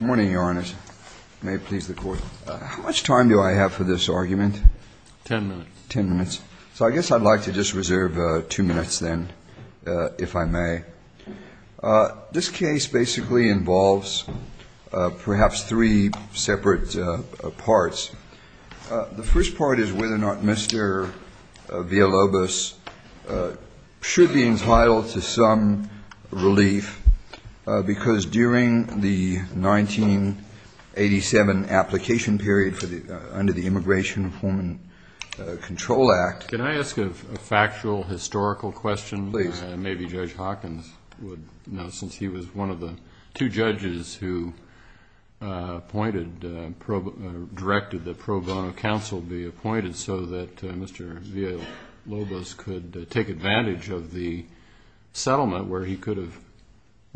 Good morning, Your Honor. May it please the Court. How much time do I have for this argument? Ten minutes. Ten minutes. So I guess I'd like to just reserve two minutes then, if I may. This case basically involves perhaps three separate parts. The first part is whether or not Mr. Villalobos should be entitled to some relief, because during the 1987 application period under the Immigration Reform and Control Act Can I ask a factual, historical question? Please. Maybe Judge Hawkins would know, since he was one of the two judges who appointed, directed that pro bono counsel be appointed so that Mr. Villalobos could take advantage of the settlement where he could have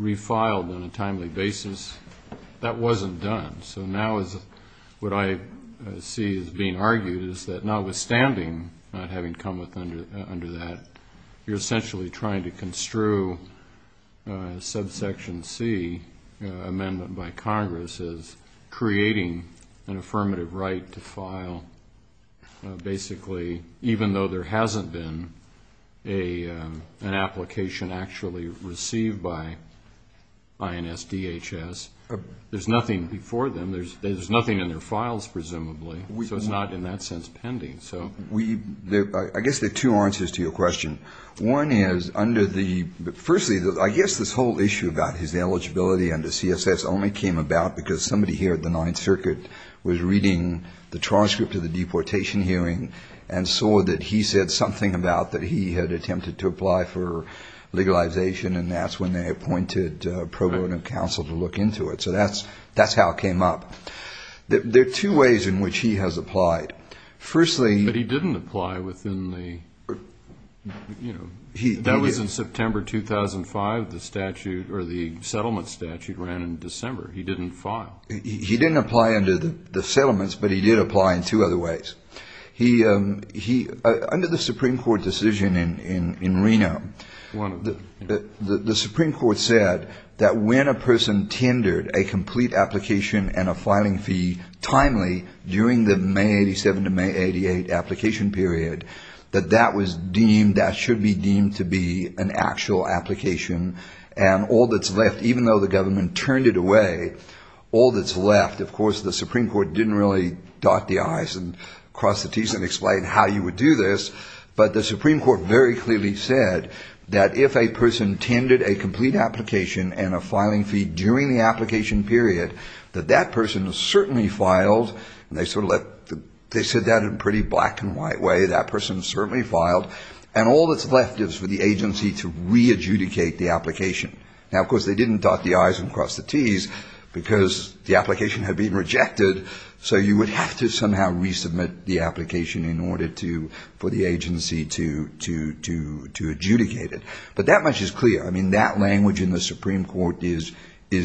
refiled on a timely basis. That wasn't done. So now what I see as being argued is that notwithstanding not having come under that, you're essentially trying to construe subsection C, amendment by Congress, creating an affirmative right to file, basically, even though there hasn't been an application actually received by INS DHS. There's nothing before them. There's nothing in their files, presumably. So it's not in that sense pending. I guess there are two answers to your question. One is under the ‑‑ firstly, I guess this whole issue about his eligibility under CSS only came about because somebody here at the Ninth Circuit was reading the transcript of the deportation hearing and saw that he said something about that he had attempted to apply for legalization, and that's when they appointed pro bono counsel to look into it. So that's how it came up. There are two ways in which he has applied. Firstly ‑‑ But he didn't apply within the ‑‑ that was in September 2005, the statute, or the settlement statute ran in December. He didn't file. He didn't apply under the settlements, but he did apply in two other ways. He ‑‑ under the Supreme Court decision in Reno, the Supreme Court said that when a person tendered a complete application and a filing fee timely during the May 87 to May 88 application period, that that was deemed, that should be deemed to be an actual application, and all that's left, even though the government turned it away, all that's left is an application. And all that's left, of course, the Supreme Court didn't really dot the I's and cross the T's and explain how you would do this, but the Supreme Court very clearly said that if a person tendered a complete application and a filing fee during the application period, that that person certainly filed, and they sort of let ‑‑ they said that in a pretty black and white way, that person certainly filed, and all that's left is for the agency to re‑adjudicate the application. Now, of course, they didn't dot the I's and cross the T's, because the application had been rejected, so you would have to somehow resubmit the application in order to ‑‑ for the agency to adjudicate it. But that much is clear. I mean, that language in the Supreme Court is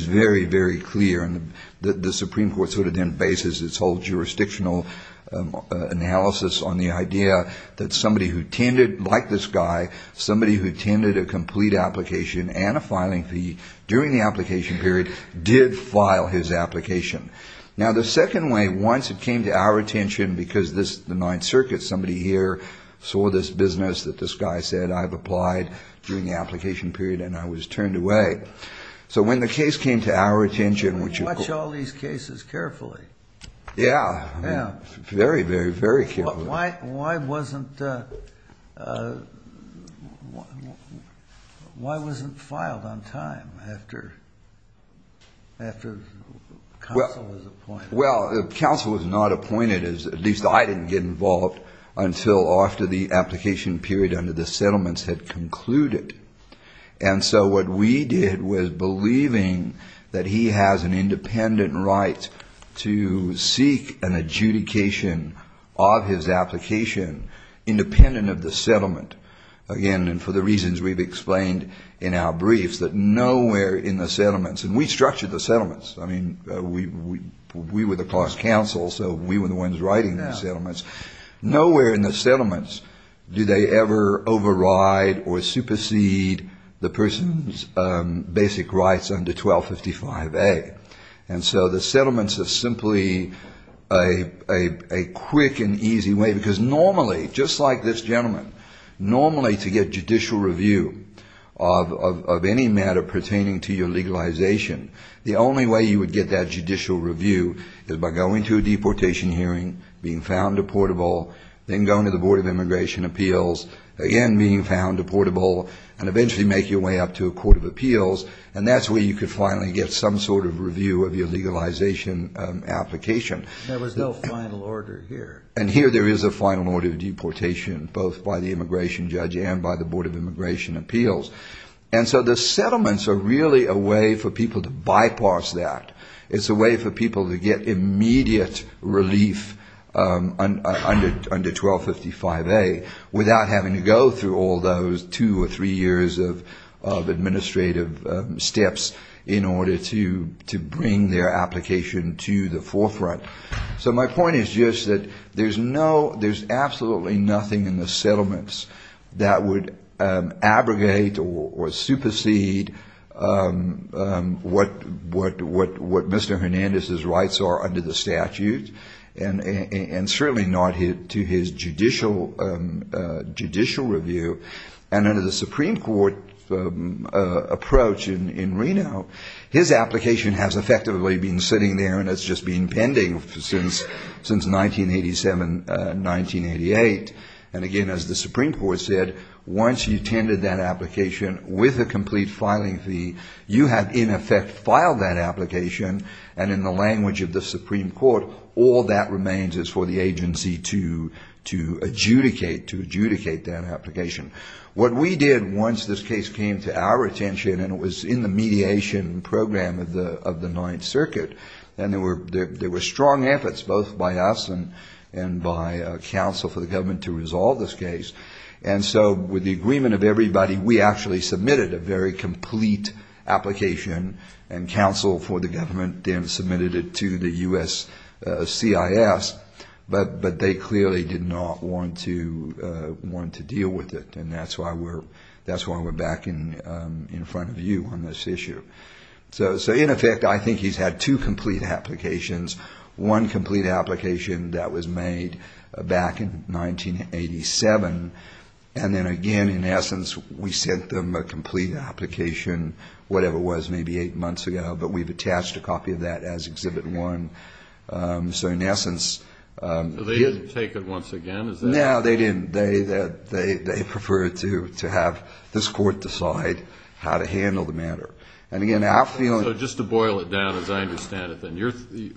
very, very clear, and the Supreme Court sort of then bases its whole jurisdictional analysis on the idea that somebody who tended, like this guy, somebody who tended a complete application and a filing fee during the application period did file his application. Now, the second way, once it came to our attention, because this, the Ninth Circuit, somebody here saw this business that this guy said I've applied during the application period and I was turned away. So when the case came to our attention, which ‑‑ Well, counsel was not appointed, at least I didn't get involved, until after the application period under the settlements had concluded. And so what we did was believing that he has an independent right to seek an adjudication of his application independent of the settlement, again, and for the reasons we've explained in our briefs, that nowhere in the settlements, and we structured the settlements. I mean, we were the class counsel, so we were the ones writing the settlements. Nowhere in the settlements do they ever override or supersede the person's basic rights under 1255A. And so the settlements are simply a quick and easy way, because normally, just like this gentleman, normally to get judicial review of any matter pertaining to your legalization, the only way you would get that judicial review is by going to a deportation hearing, being found deportable, then going to the Board of Immigration Appeals, again, being found deportable, and eventually make your way up to a court of appeals. And that's where you could finally get some sort of review of your legalization application. There was no final order here. And here there is a final order of deportation, both by the immigration judge and by the Board of Immigration Appeals. And so the settlements are really a way for people to bypass that. It's a way for people to get immediate relief under 1255A without having to go through all those two or three years of administrative steps in order to bring their application to the forefront. So my point is just that there's absolutely nothing in the settlements that would abrogate or supersede what Mr. Hernandez's rights are under the statute, and certainly not to his judicial review. And under the Supreme Court approach in Reno, his application has effectively been sitting there and it's just been pending since 1987, 1988. And again, as the Supreme Court said, once you tendered that application with a complete filing fee, you have in effect filed that application, and in the language of the Supreme Court, all that remains is for the agency to adjudicate that application. What we did once this case came to our attention, and it was in the mediation program of the Ninth Circuit, and there were strong efforts both by us and by counsel for the government to resolve this case, and so with the agreement of everybody, we actually submitted a very complete application and counsel for the government then submitted it to the U.S. CIS, but they clearly did not want to deal with it. And that's why we're back in front of you on this issue. So in effect, I think he's had two complete applications. One complete application that was made back in 1987, and then again, in essence, we sent them a complete application, whatever it was, maybe eight months ago, but we've attached a copy of that as Exhibit 1. So in essence... They didn't take it once again? No, they didn't. They preferred to have this court decide how to handle the matter. And again, I feel... So just to boil it down, as I understand it, then,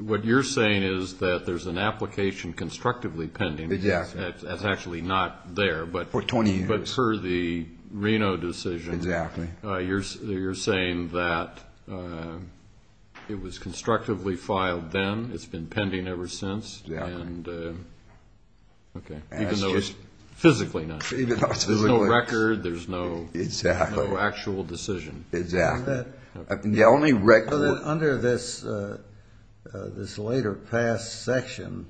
what you're saying is that there's an application constructively pending. Exactly. That's actually not there, but... For 20 years. But for the Reno decision... Exactly. You're saying that it was constructively filed then, it's been pending ever since, and... Exactly. Okay, even though it's physically not. Absolutely. There's no record, there's no actual decision. Exactly. The only record... This later passed section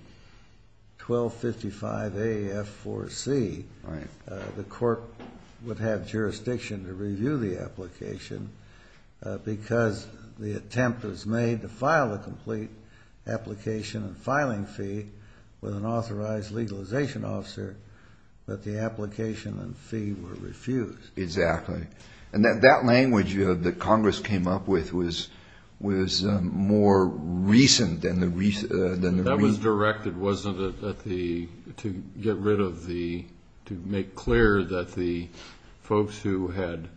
1255AF4C. Right. The court would have jurisdiction to review the application because the attempt was made to file a complete application and filing fee with an authorized legalization officer, but the application and fee were refused. Exactly. And that language that Congress came up with was more recent than the... It was directed, wasn't it, to get rid of the...to make clear that the folks who had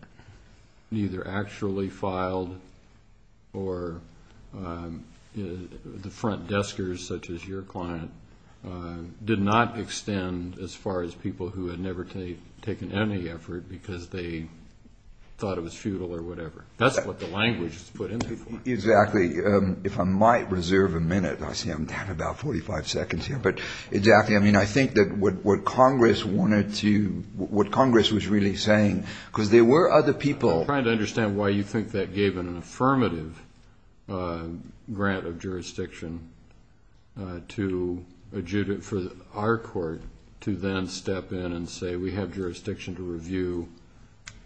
either actually filed or the front deskers, such as your client, did not extend as far as people who had never taken any effort because they thought it was futile or whatever. That's what the language is put in there for. Exactly. If I might reserve a minute, I see I'm down to about 45 seconds here, but exactly. I mean, I think that what Congress wanted to...what Congress was really saying, because there were other people... for our court to then step in and say, we have jurisdiction to review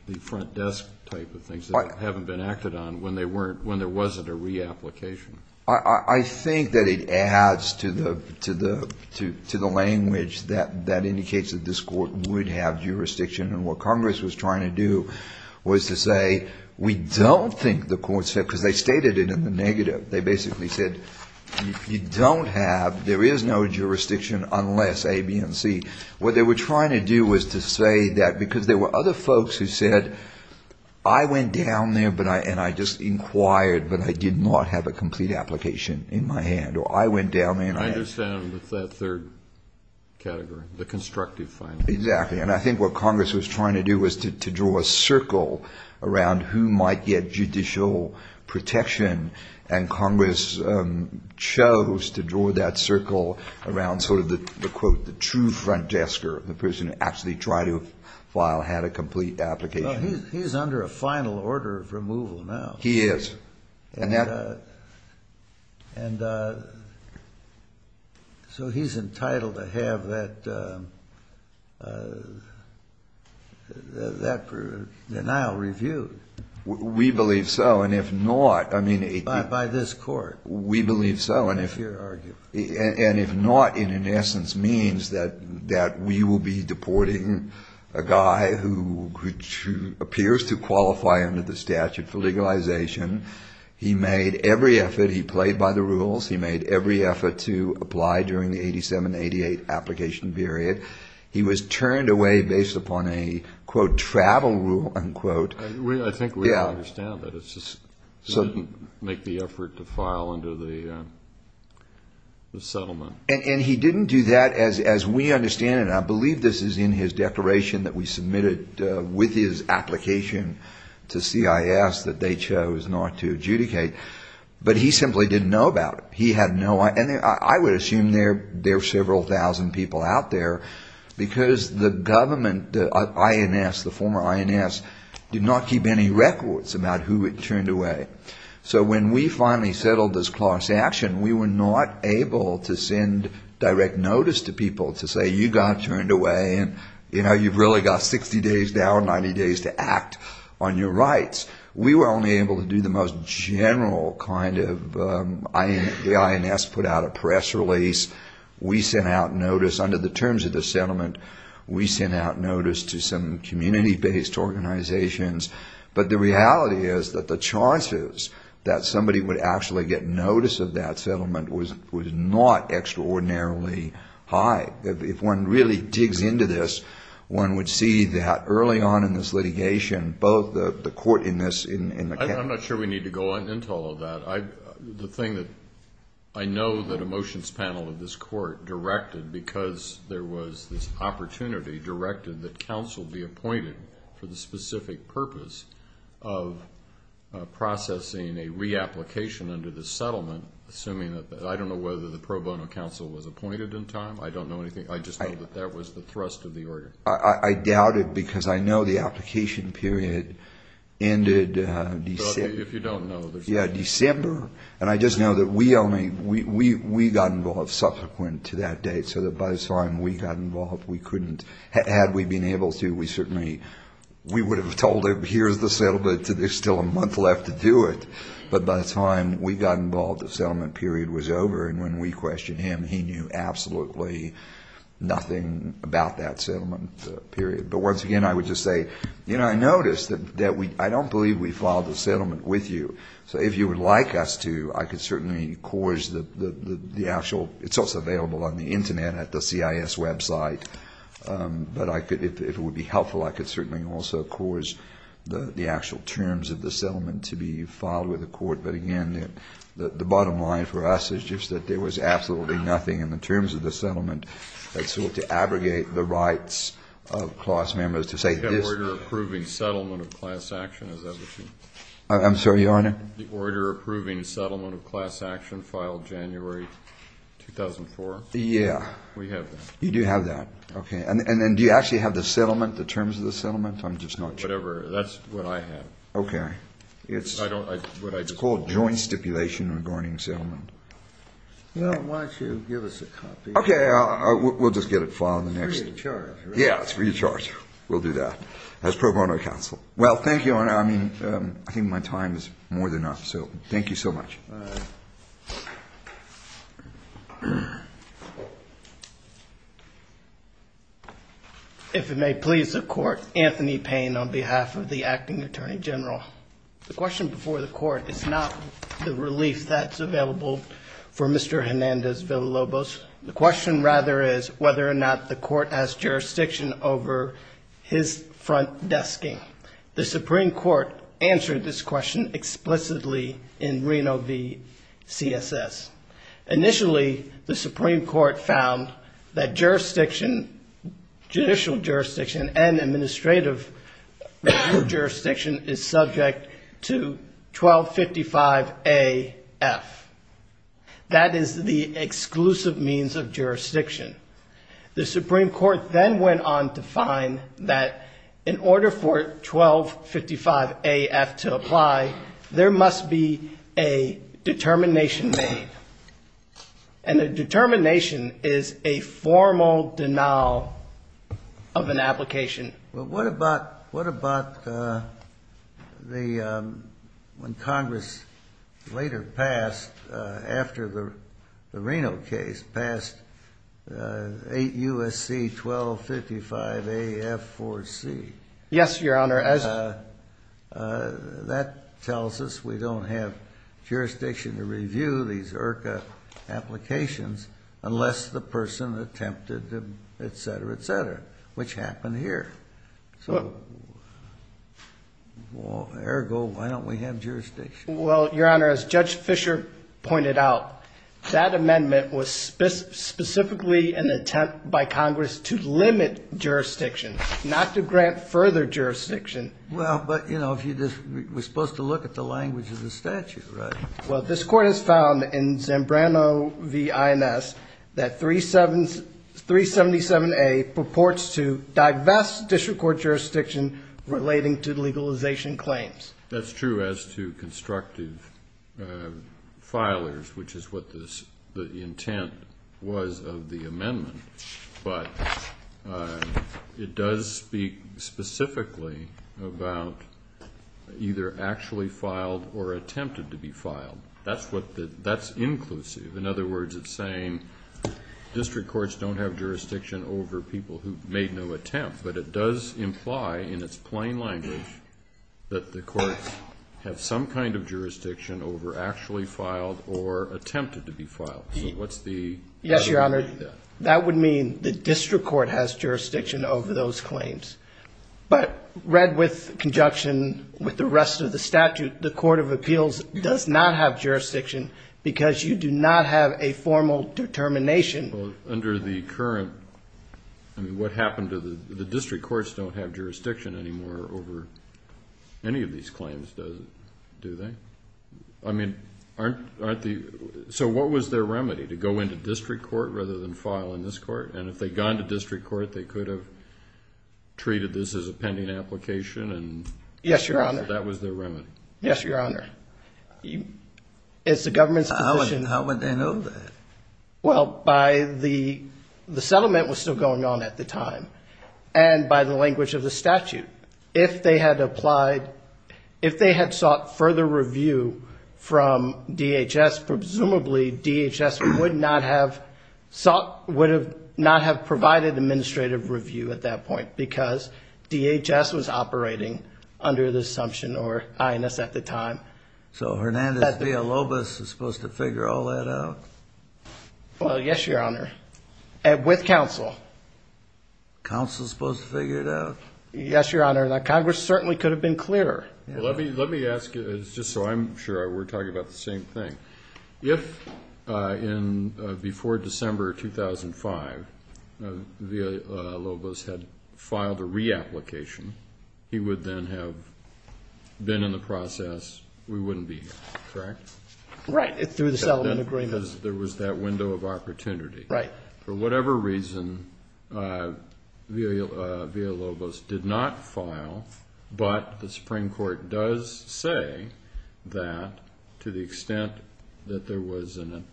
the front desk type of things that haven't been acted on when there wasn't a reapplication. I think that it adds to the language that indicates that this court would have jurisdiction. And what Congress was trying to do was to say, we don't think the court said...because they stated it in the negative. They basically said, you don't have...there is no jurisdiction unless A, B, and C. What they were trying to do was to say that...because there were other folks who said, I went down there and I just inquired, but I did not have a complete application in my hand, or I went down there and I... I understand with that third category, the constructive filing. Exactly. And I think what Congress was trying to do was to draw a circle around who might get judicial protection. And Congress chose to draw that circle around sort of the, quote, the true front desker, the person who actually tried to file had a complete application. Well, he's under a final order of removal now. He is. And so he's entitled to have that denial reviewed. We believe so. And if not... By this court. And if not, it in essence means that we will be deporting a guy who appears to qualify under the statute for legalization. He made every effort. He played by the rules. He made every effort to apply during the 87-88 application period. He was turned away based upon a, quote, travel rule, unquote. I think we understand that it's just... So he didn't make the effort to file under the settlement. And he didn't do that, as we understand it, and I believe this is in his declaration that we submitted with his application to CIS that they chose not to adjudicate, but he simply didn't know about it. And I would assume there are several thousand people out there because the government, the INS, the former INS, did not keep any records about who had turned away. So when we finally settled this class action, we were not able to send direct notice to people to say, you got turned away and, you know, you've really got 60 days now or 90 days to act on your rights. We were only able to do the most general kind of... The INS put out a press release. We sent out notice under the terms of the settlement. We sent out notice to some community-based organizations. But the reality is that the chances that somebody would actually get notice of that settlement was not extraordinarily high. If one really digs into this, one would see that early on in this litigation, both the court in this... I'm not sure we need to go into all of that. The thing that I know that a motions panel of this court directed because there was this opportunity directed that counsel be appointed for the specific purpose of processing a reapplication under the settlement, assuming that... I don't know whether the pro bono counsel was appointed in time. I don't know anything. I just know that that was the thrust of the order. I doubt it because I know the application period ended December. If you don't know... Yeah, December. And I just know that we only... We got involved subsequent to that date so that by the time we got involved, we couldn't... Had we been able to, we certainly... We would have told them, here's the settlement. There's still a month left to do it. But by the time we got involved, the settlement period was over. And when we questioned him, he knew absolutely nothing about that settlement period. But once again, I would just say, you know, I noticed that we... I don't believe we filed the settlement with you. So if you would like us to, I could certainly cause the actual... It's also available on the Internet at the CIS website. But I could... If it would be helpful, I could certainly also cause the actual terms of the settlement to be filed with the court. But again, the bottom line for us is just that there was absolutely nothing in the terms of the settlement that sought to abrogate the rights of class members to say this... We have an order approving settlement of class action. Is that what you... I'm sorry, Your Honor? The order approving settlement of class action filed January 2004. Yeah. We have that. You do have that. Okay. And do you actually have the settlement, the terms of the settlement? I'm just not sure. Whatever. That's what I have. Okay. It's called joint stipulation regarding settlement. Why don't you give us a copy? Okay. We'll just get it filed in the next... It's free of charge, right? Yeah. It's free of charge. We'll do that as pro bono counsel. Well, thank you, Your Honor. I mean, I think my time is more than enough. So thank you so much. All right. If it may please the court, Anthony Payne on behalf of the Acting Attorney General. The question before the court is not the relief that's available for Mr. Hernandez Villalobos. The question, rather, is whether or not the court has jurisdiction over his front desking. The Supreme Court answered this question explicitly in Reno v. CSS. Initially, the Supreme Court found that jurisdiction, judicial jurisdiction and administrative jurisdiction is subject to 1255-A-F. That is the exclusive means of jurisdiction. The Supreme Court then went on to find that in order for 1255-A-F to apply, there must be a determination made. And a determination is a formal denial of an application. Well, what about when Congress later passed, after the Reno case, passed 8 U.S.C. 1255-A-F-4-C? Yes, Your Honor. That tells us we don't have jurisdiction to review these IRCA applications unless the person attempted to, et cetera, et cetera, which happened here. So, ergo, why don't we have jurisdiction? Well, Your Honor, as Judge Fischer pointed out, that amendment was specifically an attempt by Congress to limit jurisdiction, not to grant further jurisdiction. Well, but, you know, we're supposed to look at the language of the statute, right? Well, this Court has found in Zambrano v. INS that 377-A purports to divest district court jurisdiction relating to legalization claims. That's true as to constructive filers, which is what the intent was of the amendment. But it does speak specifically about either actually filed or attempted to be filed. That's inclusive. In other words, it's saying district courts don't have jurisdiction over people who made no attempt. But it does imply, in its plain language, that the courts have some kind of jurisdiction over actually filed or attempted to be filed. So what's the attitude to that? That would mean the district court has jurisdiction over those claims. But read with conjunction with the rest of the statute, the Court of Appeals does not have jurisdiction because you do not have a formal determination. Well, under the current, I mean, what happened to the district courts don't have jurisdiction anymore over any of these claims, do they? I mean, aren't the, so what was their remedy? To go into district court rather than file in this court? And if they'd gone to district court, they could have treated this as a pending application. Yes, Your Honor. That was their remedy. Yes, Your Honor. It's the government's position. How would they know that? Well, the settlement was still going on at the time. And by the language of the statute, if they had applied, if they had sought further review from DHS, presumably DHS would not have sought, would not have provided administrative review at that point because DHS was operating under the assumption or INS at the time. So Hernandez v. Alobas is supposed to figure all that out? Well, yes, Your Honor, with counsel. Counsel is supposed to figure it out? Yes, Your Honor. Congress certainly could have been clearer. Let me ask you, just so I'm sure we're talking about the same thing. If before December 2005 Alobas had filed a reapplication, he would then have been in the process, we wouldn't be here, correct? Right, through the settlement agreement. Because there was that window of opportunity. Right. For whatever reason, Alobas did not file, but the Supreme Court does say that to the extent that there was an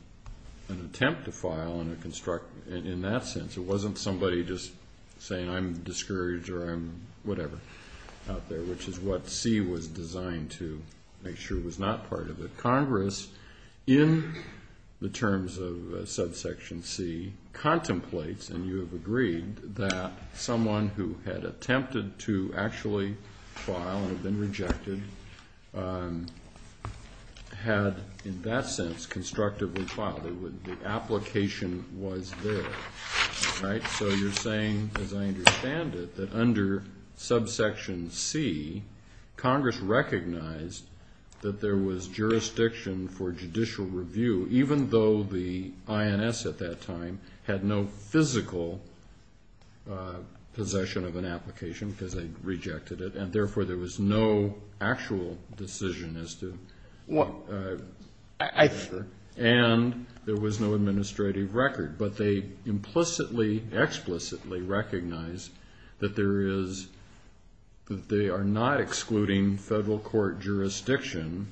attempt to file in that sense, it wasn't somebody just saying I'm discouraged or I'm whatever out there, which is what C was designed to make sure was not part of it. Congress, in the terms of subsection C, contemplates and you have agreed that someone who had attempted to actually file and had been rejected had, in that sense, constructively filed. The application was there. So you're saying, as I understand it, that under subsection C, Congress recognized that there was jurisdiction for judicial review, even though the INS at that time had no physical possession of an application because they rejected it and, therefore, there was no actual decision as to. I think so. And there was no administrative record. But they implicitly, explicitly recognized that they are not excluding federal court jurisdiction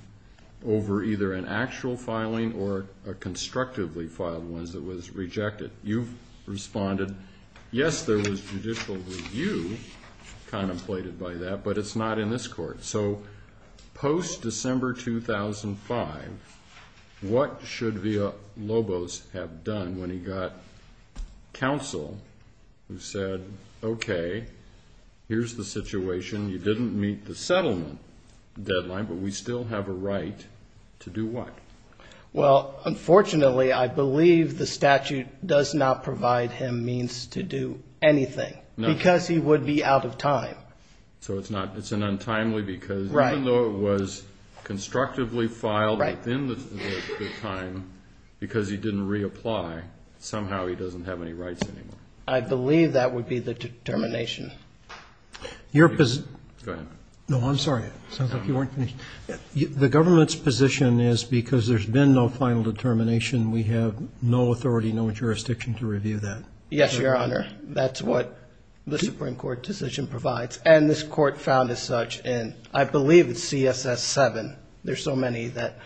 over either an actual filing or a constructively filed one that was rejected. You've responded, yes, there was judicial review contemplated by that, but it's not in this court. So post-December 2005, what should Villalobos have done when he got counsel who said, okay, here's the situation, you didn't meet the settlement deadline, but we still have a right to do what? Well, unfortunately, I believe the statute does not provide him means to do anything because he would be out of time. So it's an untimely because even though it was constructively filed within the time because he didn't reapply, somehow he doesn't have any rights anymore. I believe that would be the determination. Go ahead. No, I'm sorry. It sounds like you weren't finished. The government's position is because there's been no final determination, we have no authority, no jurisdiction to review that. Yes, Your Honor. That's what the Supreme Court decision provides, and this court found as such, and I believe it's CSS7. There's so many that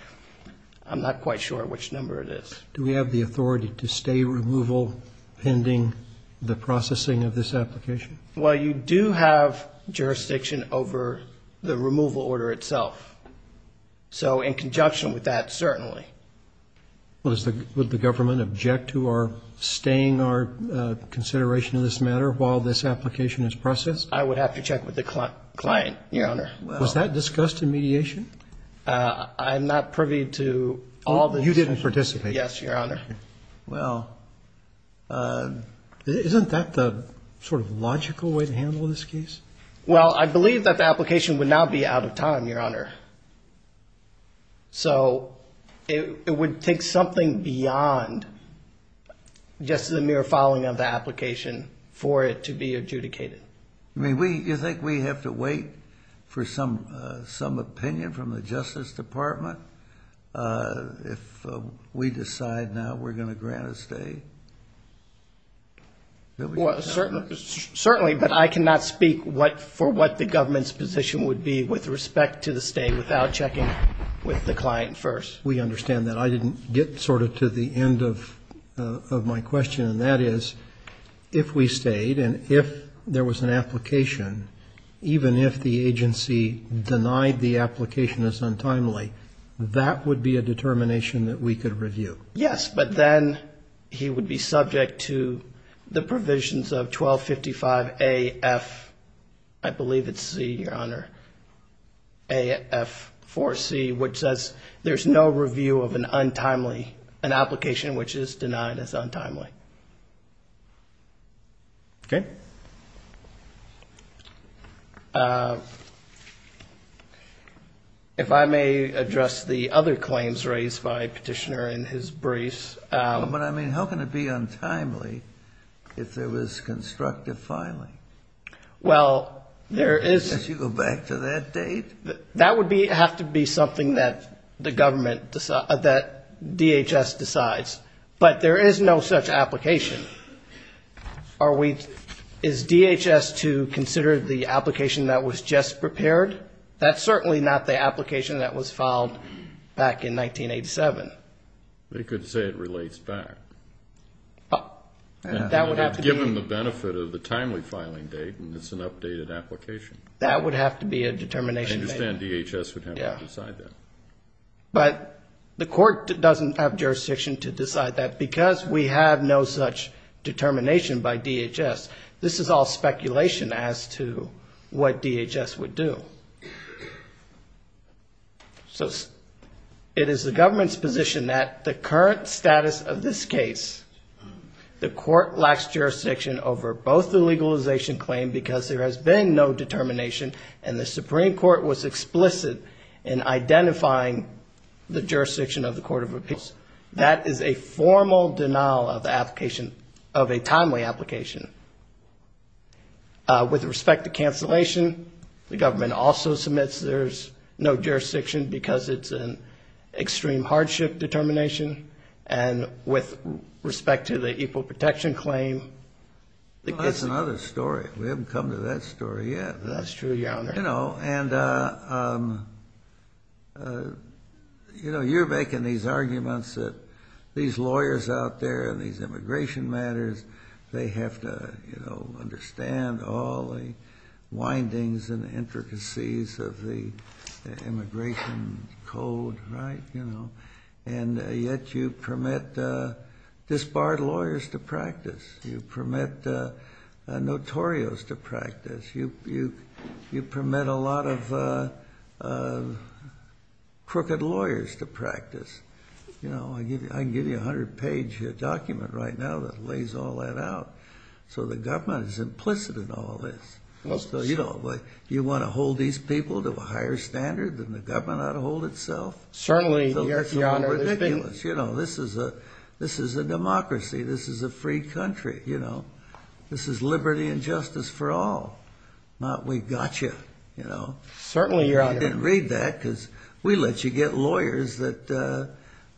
I'm not quite sure which number it is. Do we have the authority to stay removal pending the processing of this application? Well, you do have jurisdiction over the removal order itself. So in conjunction with that, certainly. Well, would the government object to our staying our consideration of this matter while this application is processed? I would have to check with the client, Your Honor. Was that discussed in mediation? I'm not privy to all the discussions. You didn't participate? Yes, Your Honor. Well, isn't that the sort of logical way to handle this case? Well, I believe that the application would now be out of time, Your Honor. So it would take something beyond just the mere following of the application for it to be adjudicated. I mean, you think we have to wait for some opinion from the Justice Department if we decide now we're going to grant a stay? Certainly, but I cannot speak for what the government's position would be with respect to the stay without checking with the client first. We understand that. I didn't get sort of to the end of my question, and that is if we stayed and if there was an application, even if the agency denied the application as untimely, that would be a determination that we could review. Yes, but then he would be subject to the provisions of 1255A-F, I believe it's C, Your Honor, A-F-4-C, which says there's no review of an application which is denied as untimely. Okay. If I may address the other claims raised by Petitioner in his briefs. But, I mean, how can it be untimely if there was constructive filing? Well, there is. You go back to that date? That would have to be something that the government, that DHS decides. But there is no such application. Is DHS to consider the application that was just prepared? That's certainly not the application that was filed back in 1987. They could say it relates back. That would have to be. Given the benefit of the timely filing date and it's an updated application. That would have to be a determination. I understand DHS would have to decide that. But the court doesn't have jurisdiction to decide that because we have no such determination by DHS. This is all speculation as to what DHS would do. So it is the government's position that the current status of this case, the court lacks jurisdiction over both the legalization claim because there has been no determination and the Supreme Court was explicit in identifying the jurisdiction of the Court of Appeals. That is a formal denial of a timely application. With respect to cancellation, the government also submits there's no jurisdiction because it's an extreme hardship determination. And with respect to the Equal Protection Claim. That's another story. We haven't come to that story yet. That's true, Your Honor. You know, you're making these arguments that these lawyers out there in these immigration matters, they have to, you know, understand all the windings and intricacies of the immigration code, right? And yet you permit disbarred lawyers to practice. You permit notorious to practice. You know, I can give you a hundred-page document right now that lays all that out. So the government is implicit in all of this. You want to hold these people to a higher standard than the government ought to hold itself? Certainly, Your Honor. You know, this is a democracy. This is a free country, you know. This is liberty and justice for all. Not we got you, you know. Certainly, Your Honor. I didn't read that because we let you get lawyers that,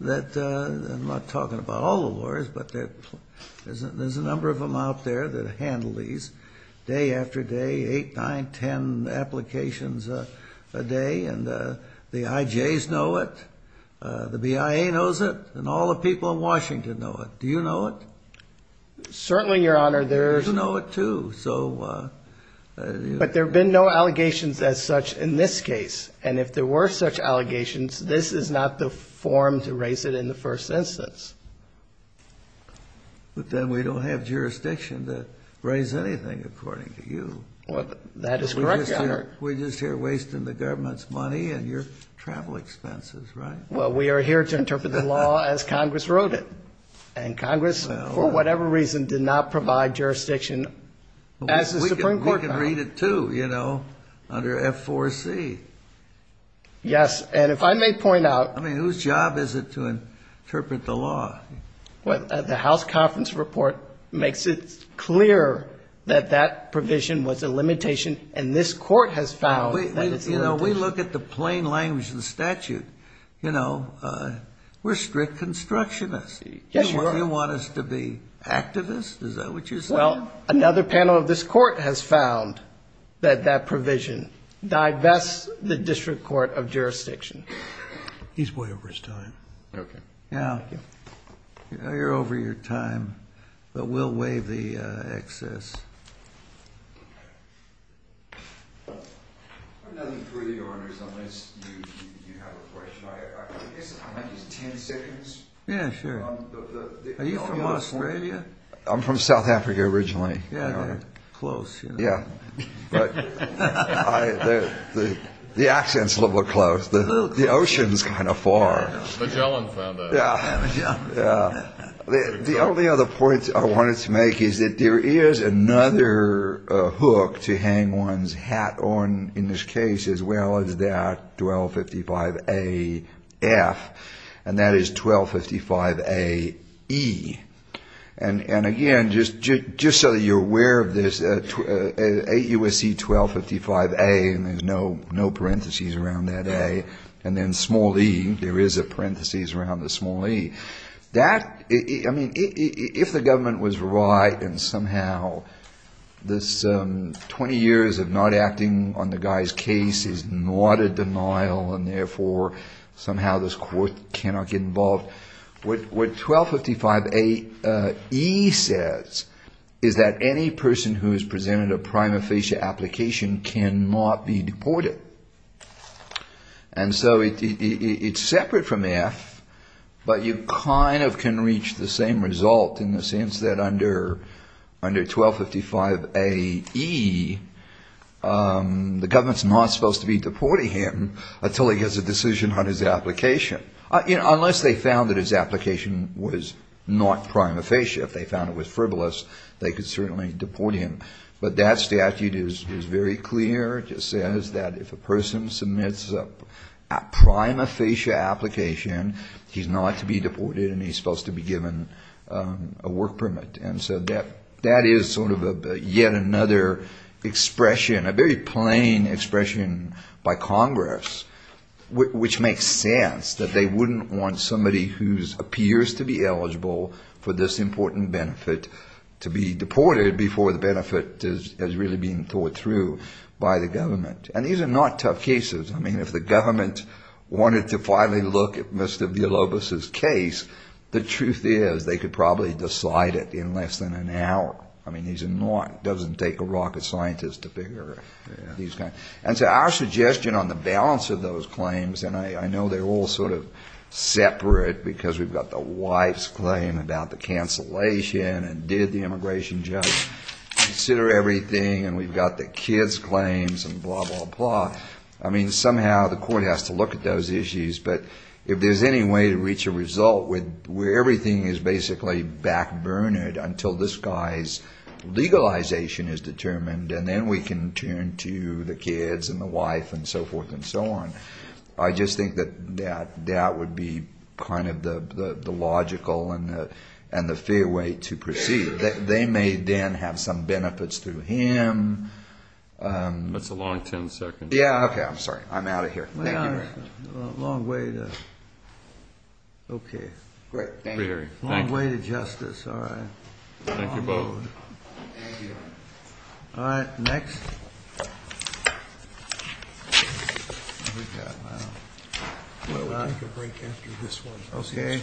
I'm not talking about all the lawyers, but there's a number of them out there that handle these day after day, eight, nine, ten applications a day. And the IJs know it. The BIA knows it. And all the people in Washington know it. Do you know it? Certainly, Your Honor. You know it too. But there have been no allegations as such in this case. And if there were such allegations, this is not the form to raise it in the first instance. But then we don't have jurisdiction to raise anything according to you. That is correct, Your Honor. We're just here wasting the government's money and your travel expenses, right? Well, we are here to interpret the law as Congress wrote it. And Congress, for whatever reason, did not provide jurisdiction as the Supreme Court found it. We can read it too, you know, under F4C. Yes. And if I may point out. I mean, whose job is it to interpret the law? The House Conference Report makes it clear that that provision was a limitation, and this Court has found that it's a limitation. You know, we look at the plain language of the statute. You know, we're strict constructionists. Yes, you are. You want us to be activists? Is that what you're saying? Well, another panel of this Court has found that that provision divests the District Court of Jurisdiction. He's way over his time. Okay. Now, you're over your time, but we'll waive the excess. I have nothing further, Your Honors, unless you have a question. I guess I might use 10 seconds. Yeah, sure. Are you from Australia? I'm from South Africa originally. Yeah, they're close. Yeah. But the accent's a little bit close. The ocean's kind of far. Magellan found that. Yeah. The only other point I wanted to make is that there is another hook to hang one's hat on in this case, as well as that 1255A-F, and that is 1255A-E. And, again, just so that you're aware of this, 8 U.S.C. 1255A, and there's no parentheses around that A, and then small E, there is a parentheses around the small E. That, I mean, if the government was right and somehow this 20 years of not acting on the guy's case is not a denial and, therefore, somehow this Court cannot get involved, what 1255A-E says is that any person who has presented a prima facie application cannot be deported. And so it's separate from F, but you kind of can reach the same result in the sense that under 1255A-E, the government's not supposed to be deporting him until he gets a decision on his application. Unless they found that his application was not prima facie. If they found it was frivolous, they could certainly deport him. But that statute is very clear. It just says that if a person submits a prima facie application, he's not to be deported and he's supposed to be given a work permit. And so that is sort of yet another expression, a very plain expression by Congress, which makes sense that they wouldn't want somebody who appears to be eligible for this important benefit to be deported before the benefit is really being thought through by the government. And these are not tough cases. I mean, if the government wanted to finally look at Mr. Villalobos's case, the truth is they could probably decide it in less than an hour. I mean, these are not, it doesn't take a rocket scientist to figure these kinds. And so our suggestion on the balance of those claims, and I know they're all sort of separate because we've got the wife's claim about the cancellation and did the immigration judge consider everything and we've got the kid's claims and blah, blah, blah. I mean, somehow the court has to look at those issues. But if there's any way to reach a result where everything is basically back-burnered until this guy's legalization is determined and then we can turn to the kids and the wife and so forth and so on, I just think that that would be kind of the logical and the fair way to proceed. They may then have some benefits through him. That's a long 10 seconds. Yeah, okay, I'm sorry. I'm out of here. Thank you very much. A long way to, okay. Great, thank you. A long way to justice. All right. Thank you both. Thank you. All right, next. We'll take a break after this one. Okay.